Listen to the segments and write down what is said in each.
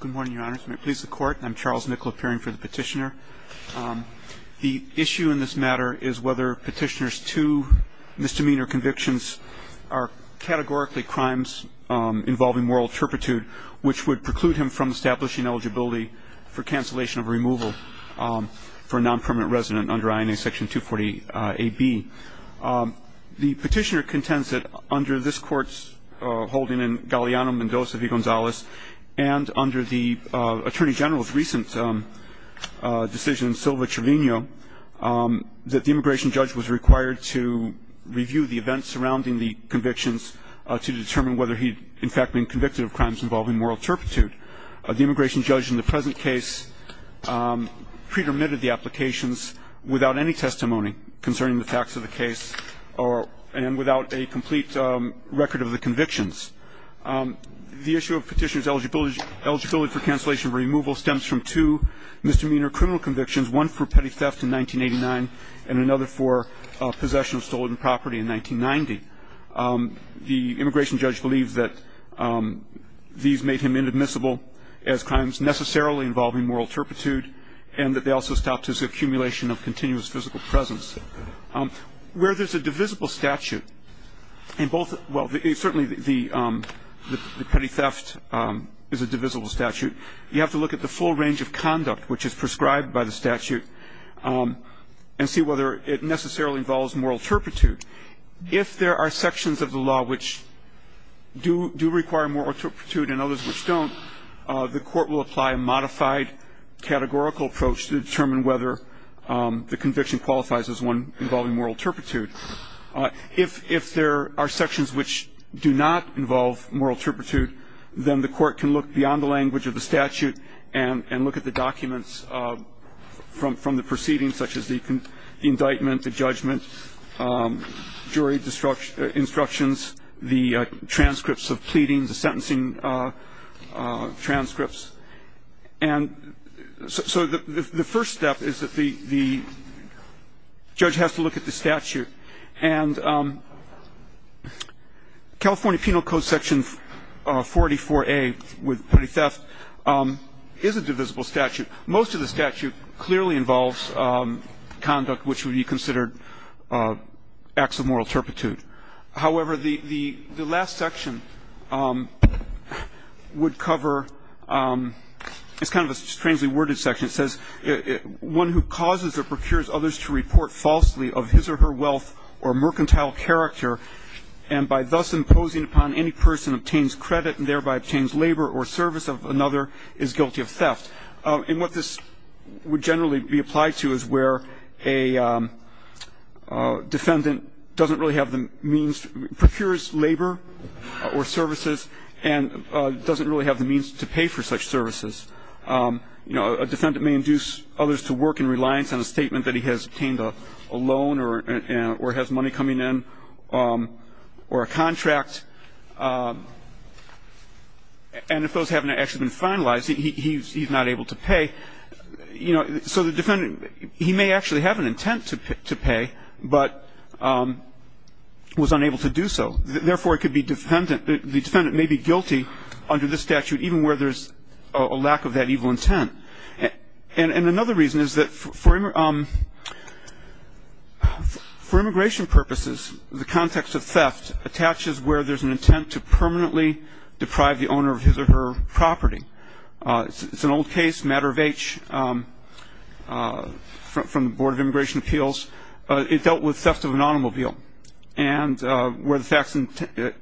Good morning, Your Honors. May it please the Court, I'm Charles Nicol appearing for the Petitioner. The issue in this matter is whether Petitioner's two misdemeanor convictions are categorically crimes involving moral turpitude, which would preclude him from establishing eligibility for cancellation of removal for a non-permanent resident under INA Section 240 AB. The Petitioner contends that under this Court's holding in Galeano-Mendoza v. Gonzalez and under the Attorney General's recent decision in Silva-Trevino, that the immigration judge was required to review the events surrounding the convictions to determine whether he'd in fact been convicted of crimes involving moral turpitude. The immigration judge in the present case pre-permitted the applications without any testimony concerning the facts of the case and without a complete record of the convictions. The issue of Petitioner's eligibility for cancellation of removal stems from two misdemeanor criminal convictions, one for petty theft in 1989 and another for possession of stolen property in 1990. The immigration judge believes that these made him inadmissible as crimes necessarily involving moral turpitude and that they also stopped his accumulation of continuous physical presence. Where there's a divisible statute in both the – well, certainly the petty theft is a divisible statute. You have to look at the full range of conduct which is prescribed by the statute and see whether it necessarily involves moral turpitude. If there are sections of the law which do require moral turpitude and others which don't, the court will apply a modified categorical approach to determine whether the conviction qualifies as one involving moral turpitude. If there are sections which do not involve moral turpitude, then the court can look beyond the language of the statute and look at the documents from the proceedings such as the indictment, the judgment, jury instructions, the transcripts of pleadings, the sentencing transcripts. And so the first step is that the judge has to look at the statute. And California Penal Code section 484A with petty theft is a divisible statute. Most of the statute clearly involves conduct which would be considered acts of moral turpitude. However, the last section would cover – it's kind of a strangely worded section. It says one who causes or procures others to report falsely of his or her wealth or mercantile character and by thus imposing upon any person obtains credit and thereby obtains labor or service of another is guilty of theft. And what this would generally be applied to is where a defendant doesn't really have the means – procures labor or services and doesn't really have the means to pay for such services. You know, a defendant may induce others to work in reliance on a statement that he has obtained a loan or has money coming in or a contract. And if those haven't actually been finalized, he's not able to pay. You know, so the defendant – he may actually have an intent to pay, but was unable to do so. Therefore, it could be defendant – the defendant may be guilty under this statute even where there's a lack of that evil intent. And another reason is that for immigration purposes, the context of theft attaches where there's an intent to permanently deprive the owner of his or her property. It's an old case, matter of H, from the Board of Immigration Appeals. It dealt with theft of an automobile and where the facts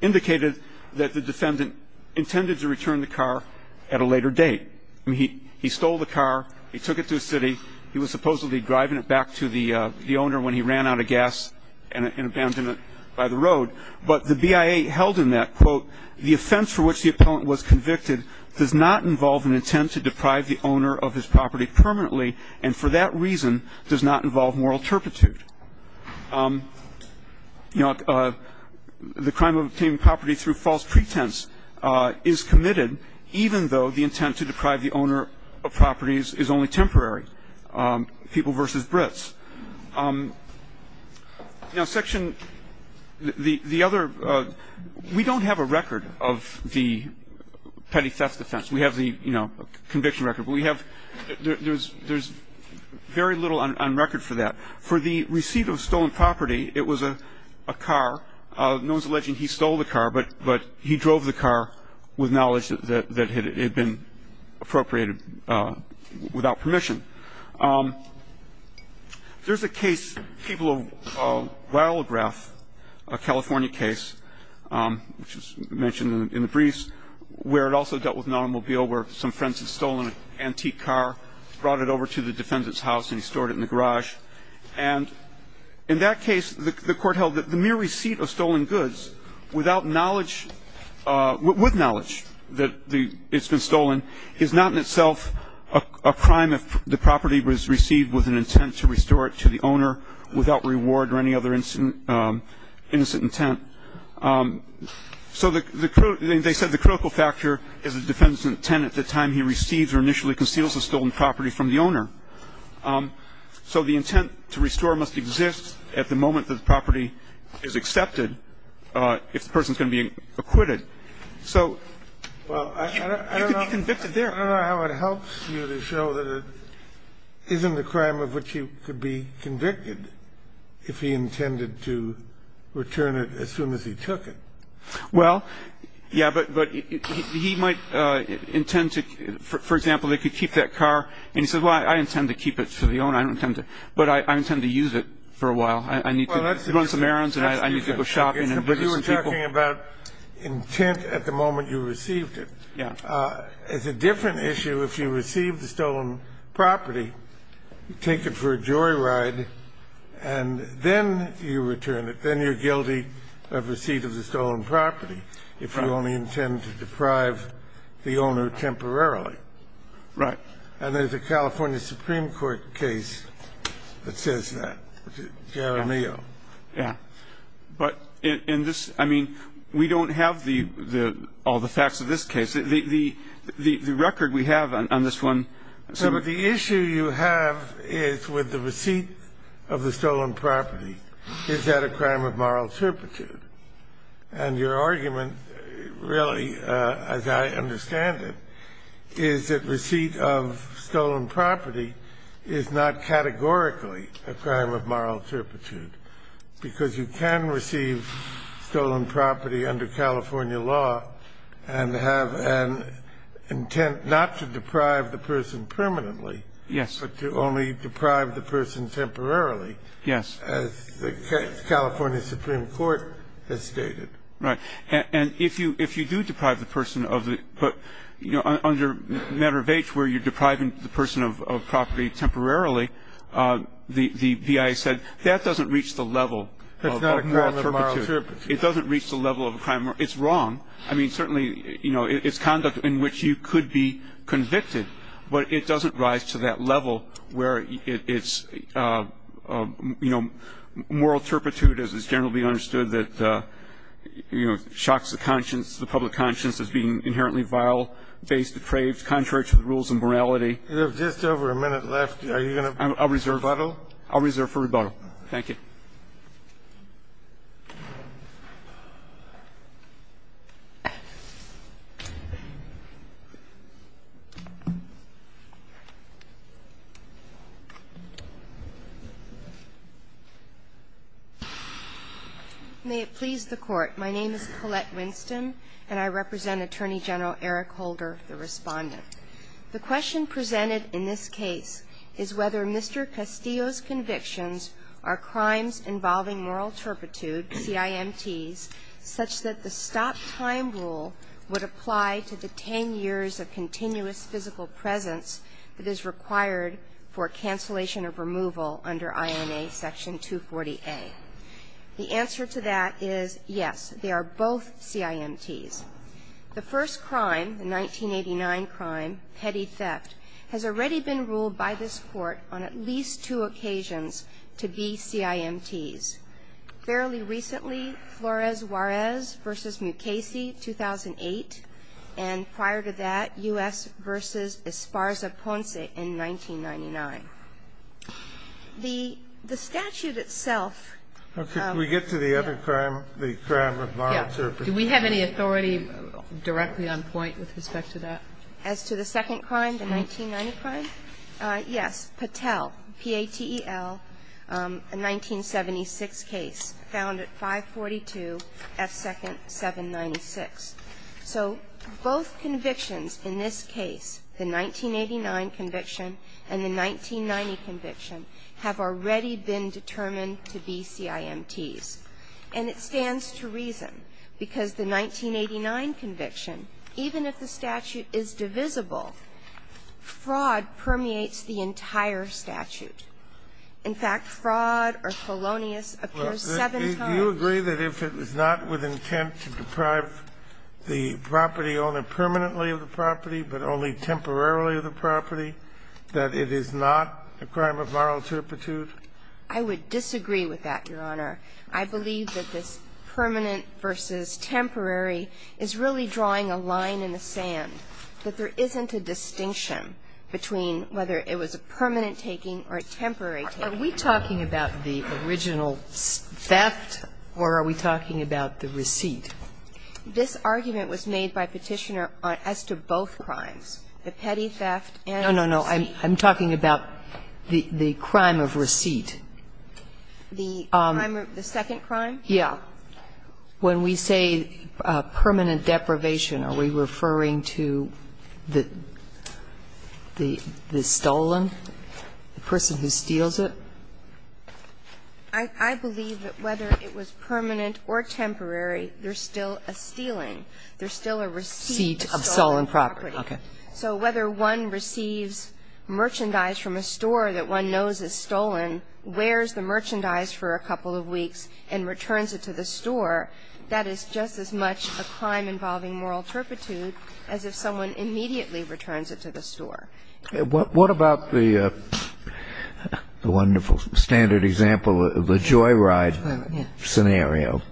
indicated that the defendant intended to return the car at a later date. I mean, he stole the car, he took it to a city, he was supposedly driving it back to the owner when he ran out of gas and abandoned it by the road. But the BIA held in that, quote, the offense for which the appellant was convicted does not involve an intent to deprive the owner of his property permanently, and for that reason does not involve moral turpitude. You know, the crime of obtaining property through false pretense is committed even though the intent to deprive the owner of properties is only temporary, people versus Brits. Now, Section – the other – we don't have a record of the petty theft offense. We have the, you know, conviction record. But we have – there's very little on record for that. For the receipt of stolen property, it was a car. No one's alleging he stole the car, but he drove the car with knowledge that it had been appropriated without permission. There's a case, people will biograph a California case, which is mentioned in the briefs, where it also dealt with an automobile where some friends had stolen an antique car, brought it over to the defendant's house, and he stored it in the garage. And in that case, the court held that the mere receipt of stolen goods without knowledge – with knowledge that it's been stolen is not in itself a crime if the property was received with an intent to restore it to the owner without reward or any other innocent intent. So the – they said the critical factor is the defendant's intent at the time he receives or initially conceals a stolen property from the owner. So the intent to restore must exist at the moment that the property is accepted if the person's going to be acquitted. So you can be convicted there. I don't know how it helps you to show that it isn't a crime of which you could be convicted if he intended to return it as soon as he took it. Well, yeah, but he might intend to – for example, they could keep that car. And he says, well, I intend to keep it to the owner. I don't intend to – but I intend to use it for a while. I need to run some errands and I need to go shopping and visit some people. But you were talking about intent at the moment you received it. Yeah. It's a different issue if you receive the stolen property, take it for a joyride, and then you return it. Then you're guilty of receipt of the stolen property if you only intend to deprive the owner temporarily. Right. And there's a California Supreme Court case that says that, Jaramillo. Yeah. But in this – I mean, we don't have all the facts of this case. The record we have on this one – Well, but the issue you have is with the receipt of the stolen property. Is that a crime of moral turpitude? And your argument really, as I understand it, is that receipt of stolen property is not categorically a crime of moral turpitude, because you can receive stolen property under California law and have an intent not to deprive the person permanently but to only deprive the person temporarily. Yes. As the California Supreme Court has stated. Right. And if you do deprive the person of the – but, you know, under matter of H, where you're depriving the person of property temporarily, the BIA said, that doesn't reach the level of moral turpitude. It's not a crime of moral turpitude. It doesn't reach the level of a crime – it's wrong. I mean, certainly, you know, it's conduct in which you could be convicted, but it doesn't rise to that level where it's, you know, moral turpitude, as is generally understood, that, you know, shocks the conscience, the public conscience as being inherently vile, based, depraved, contrary to the rules and morality. You have just over a minute left. Are you going to rebuttal? I'll reserve for rebuttal. Thank you. May it please the Court. My name is Colette Winston, and I represent Attorney General Eric Holder, the Respondent. The question presented in this case is whether Mr. Castillo's convictions are crimes involving moral turpitude, CIMTs, such that the stop-time rule would apply to the 10 years of continuous physical presence that is required for cancellation of removal under INA Section 240A. The answer to that is, yes, they are both CIMTs. The first crime, the 1989 crime, petty theft, has already been ruled by this Court on at least two occasions to be CIMTs. Fairly recently, Flores-Juarez v. Mukasey, 2008, and prior to that, U.S. v. Esparza-Ponce in 1999. The statute itself of the other crime, the crime of moral turpitude. Do we have any authority directly on point with respect to that? As to the second crime, the 1990 crime? Yes. Patel, P-A-T-E-L, a 1976 case, found at 542 F. 2nd, 796. So both convictions in this case, the 1989 conviction and the 1990 conviction, have already been determined to be CIMTs. And it stands to reason because the 1989 conviction, even if the statute is divisible, fraud permeates the entire statute. In fact, fraud or felonious appears seven times. Do you agree that if it is not with intent to deprive the property owner permanently of the property, but only temporarily of the property, that it is not a crime of moral turpitude? I would disagree with that, Your Honor. I believe that this permanent versus temporary is really drawing a line in the sand, that there isn't a distinction between whether it was a permanent taking or a temporary taking. Are we talking about the original theft or are we talking about the receipt? This argument was made by Petitioner as to both crimes, the petty theft and the receipt. No, no, no. I'm talking about the crime of receipt. The crime of the second crime? Yeah. When we say permanent deprivation, are we referring to the stolen, the person who steals it? I believe that whether it was permanent or temporary, there's still a stealing. There's still a receipt of stolen property. Okay. So whether one receives merchandise from a store that one knows is stolen, wears the merchandise for a couple of weeks and returns it to the store, that is just as much a crime involving moral turpitude as if someone immediately returns it to the store. What about the wonderful standard example of the joyride scenario?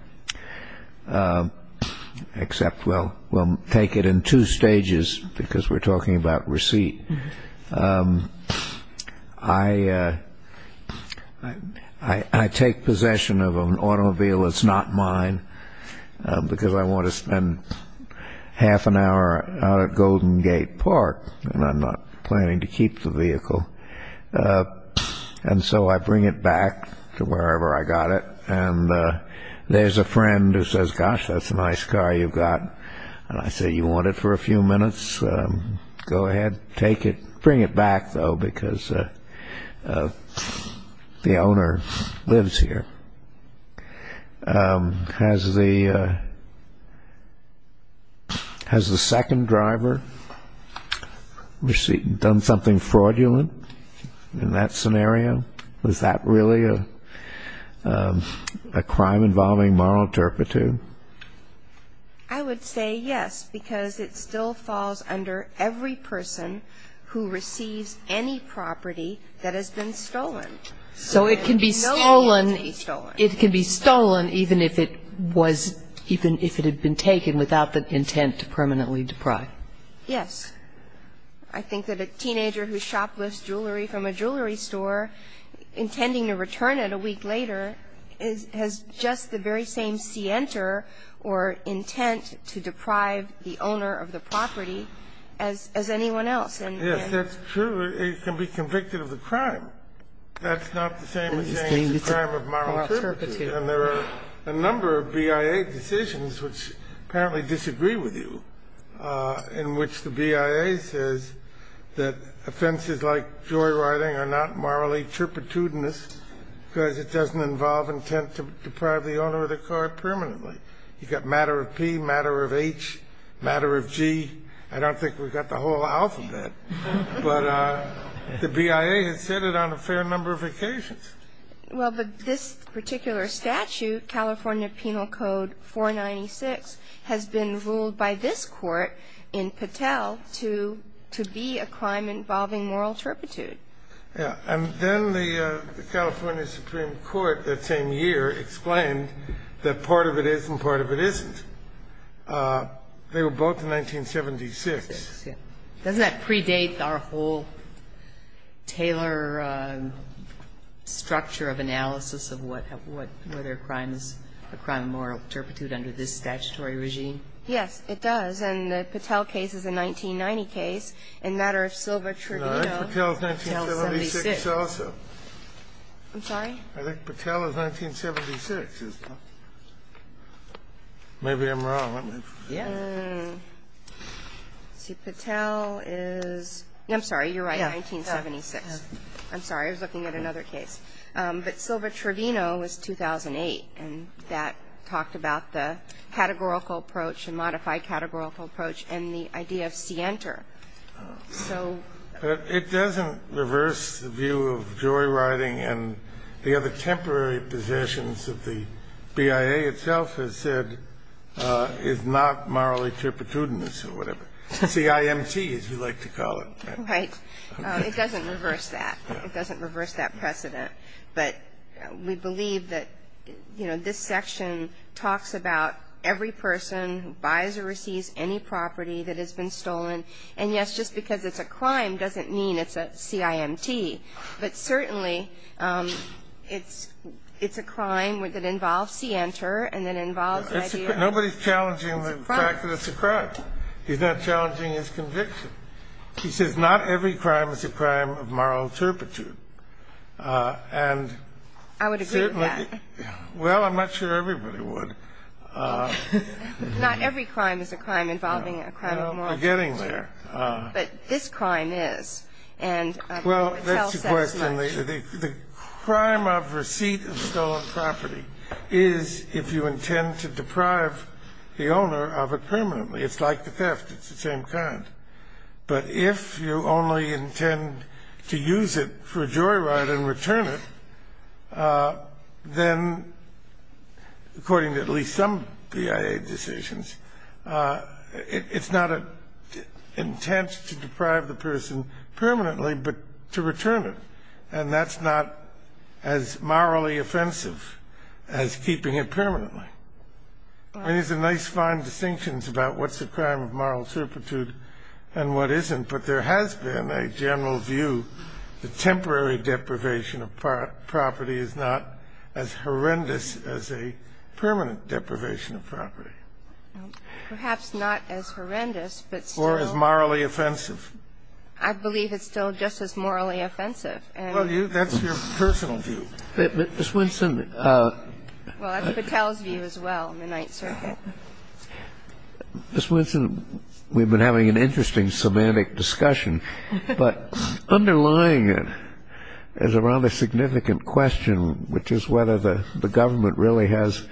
Except we'll take it in two stages because we're talking about receipt. I take possession of an automobile that's not mine because I want to spend half an hour out at Golden Gate Park and I'm not planning to keep the vehicle. And so I bring it back to wherever I got it and there's a friend who says, gosh, that's a nice car you've got. And I say, you want it for a few minutes? Go ahead, take it. Bring it back, though, because the owner lives here. Has the second driver done something fraudulent in that scenario? Was that really a crime involving moral turpitude? I would say yes, because it still falls under every person who receives any property that has been stolen. So it can be stolen, it can be stolen even if it was, even if it had been taken without the intent to permanently deprive. Yes. I think that a teenager who shoplifts jewelry from a jewelry store intending to return it a week later has just the very same scienter or intent to deprive the owner of the property as anyone else. Yes, that's true. It can be convicted of a crime. That's not the same as saying it's a crime of moral turpitude. And there are a number of BIA decisions which apparently disagree with you in which the BIA says that offenses like joyriding are not morally turpitudinous because it doesn't involve intent to deprive the owner of the car permanently. You've got matter of P, matter of H, matter of G. I don't think we've got the whole alphabet. But the BIA has said it on a fair number of occasions. Well, but this particular statute, California Penal Code 496, has been ruled by this court in Patel to be a crime involving moral turpitude. Yes. And then the California Supreme Court that same year explained that part of it is and part of it isn't. They were both in 1976. Doesn't that predate our whole Taylor structure of analysis of whether a crime is a crime of moral turpitude under this statutory regime? Yes, it does. And the Patel case is a 1990 case. And matter of silver trivia, Patel is 1976 also. I'm sorry? I think Patel is 1976. Maybe I'm wrong. Yes. See, Patel is ñ I'm sorry, you're right, 1976. I'm sorry. I was looking at another case. But silver trivino was 2008. And that talked about the categorical approach and modified categorical approach and the idea of scienter. So ñ But it doesn't reverse the view of joyriding and the other temporary positions of the BIA itself has said is not morally turpitudinous or whatever. CIMT, as we like to call it. Right. It doesn't reverse that. It doesn't reverse that precedent. But we believe that, you know, this section talks about every person who buys or receives any property that has been stolen. And, yes, just because it's a crime doesn't mean it's a CIMT. But certainly it's a crime that involves scienter and that involves the idea of ñ Nobody's challenging the fact that it's a crime. He's not challenging his conviction. He says not every crime is a crime of moral turpitude. And certainly ñ I would agree with that. Well, I'm not sure everybody would. Not every crime is a crime involving a crime of moral turpitude. We're getting there. But this crime is. Well, that's the question. The crime of receipt of stolen property is if you intend to deprive the owner of it permanently. It's like the theft. It's the same kind. But if you only intend to use it for a jury ride and return it, then, according to at least some BIA decisions, it's not an intent to deprive the person permanently but to return it. And that's not as morally offensive as keeping it permanently. I mean, there's a nice fine distinction about what's a crime of moral turpitude and what isn't. But there has been a general view that temporary deprivation of property is not as horrendous as a permanent deprivation of property. Perhaps not as horrendous, but still. Or as morally offensive. I believe it's still just as morally offensive. Well, that's your personal view. Ms. Winston. Well, that's Patel's view as well in the Ninth Circuit. Ms. Winston, we've been having an interesting semantic discussion. But underlying it is a rather significant question, which is whether the government really has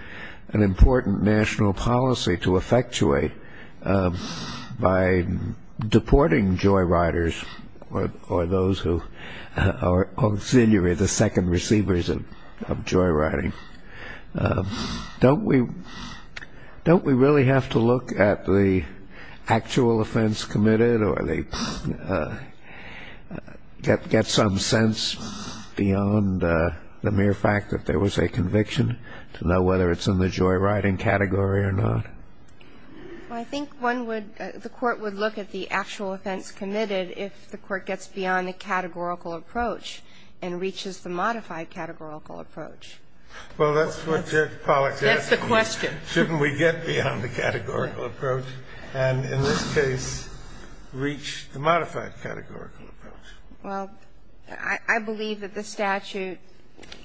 an important national policy to effectuate by deporting joyriders or those who are auxiliary, the second receivers of joyriding. Don't we really have to look at the actual offense committed or get some sense beyond the mere fact that there was a conviction to know whether it's in the joyriding category or not? I think the court would look at the actual offense committed if the court gets beyond the categorical approach and reaches the modified categorical approach. Well, that's what Judge Pollack's asking. That's the question. Shouldn't we get beyond the categorical approach and in this case reach the modified categorical approach? Well, I believe that the statute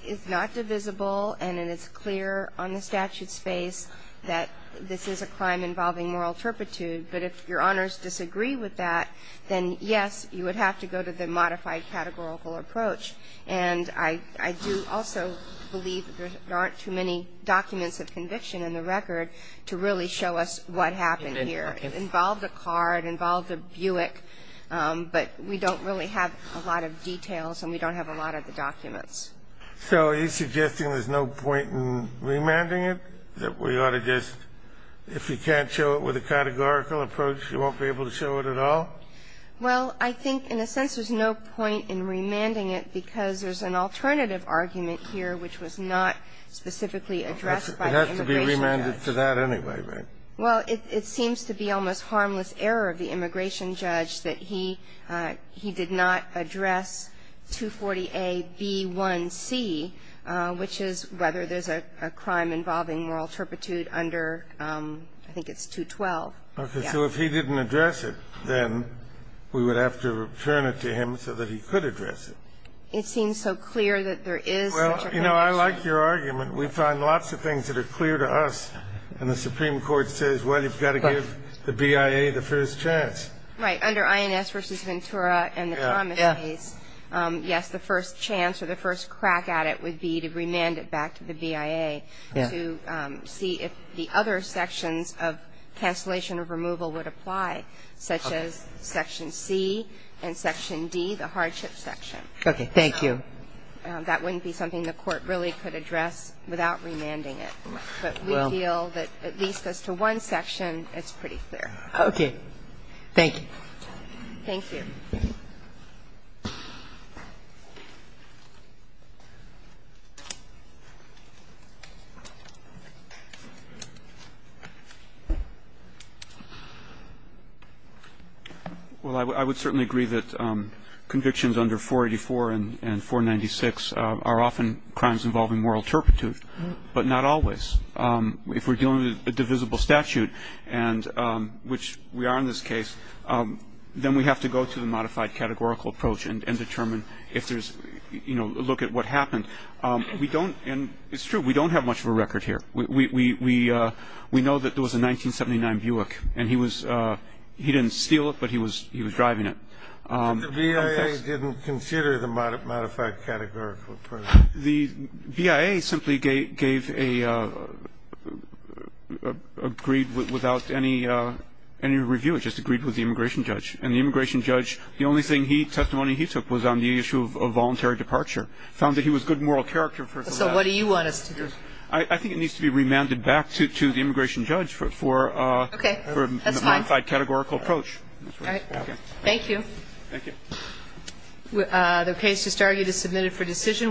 is not divisible and it is clear on the statute's face that this is a crime involving moral turpitude. But if Your Honors disagree with that, then, yes, you would have to go to the modified categorical approach. And I do also believe there aren't too many documents of conviction in the record to really show us what happened here. It involved a car. It involved a Buick. But we don't really have a lot of details and we don't have a lot of the documents. So are you suggesting there's no point in remanding it, that we ought to just, if you can't show it with a categorical approach, you won't be able to show it at all? Well, I think in a sense there's no point in remanding it because there's an alternative argument here which was not specifically addressed by the immigration judge. It has to be remanded to that anyway, right? Well, it seems to be almost harmless error of the immigration judge that he did not address 240a)(b)(1)(C), which is whether there's a crime involving moral turpitude under, I think it's 212. Okay. So if he didn't address it, then we would have to return it to him so that he could address it. It seems so clear that there is such a condition. Well, you know, I like your argument. We find lots of things that are clear to us and the Supreme Court says, well, you've got to give the BIA the first chance. Right. Under INS v. Ventura and the Thomas case, yes, the first chance or the first crack at it would be to remand it back to the BIA to see if the other sections of cancellation of removal would apply, such as Section C and Section D, the hardship section. Okay. Thank you. That wouldn't be something the Court really could address without remanding it. But we feel that at least as to one section, it's pretty clear. Okay. Thank you. Thank you. Well, I would certainly agree that convictions under 484 and 496 are often crimes involving moral turpitude, but not always. If we're dealing with a divisible statute, and which we are in this case, then we have to go to the Supreme Court. I think we can't take the modified categorical approach and determine if there's you know, look at what happened. We don't, and it's true, we don't have much of a record here. We know that there was a 1979 Buick, and he was, he didn't steal it, but he was driving it. The BIA didn't consider the modified categorical approach. The BIA simply gave a, agreed without any review, it just agreed with the immigration judge. And the immigration judge, the only thing he, testimony he took was on the issue of voluntary departure. Found that he was good moral character. So what do you want us to do? I think it needs to be remanded back to the immigration judge for a modified categorical approach. Okay. That's fine. Alright. Thank you. Thank you. The case just argued is submitted for decision.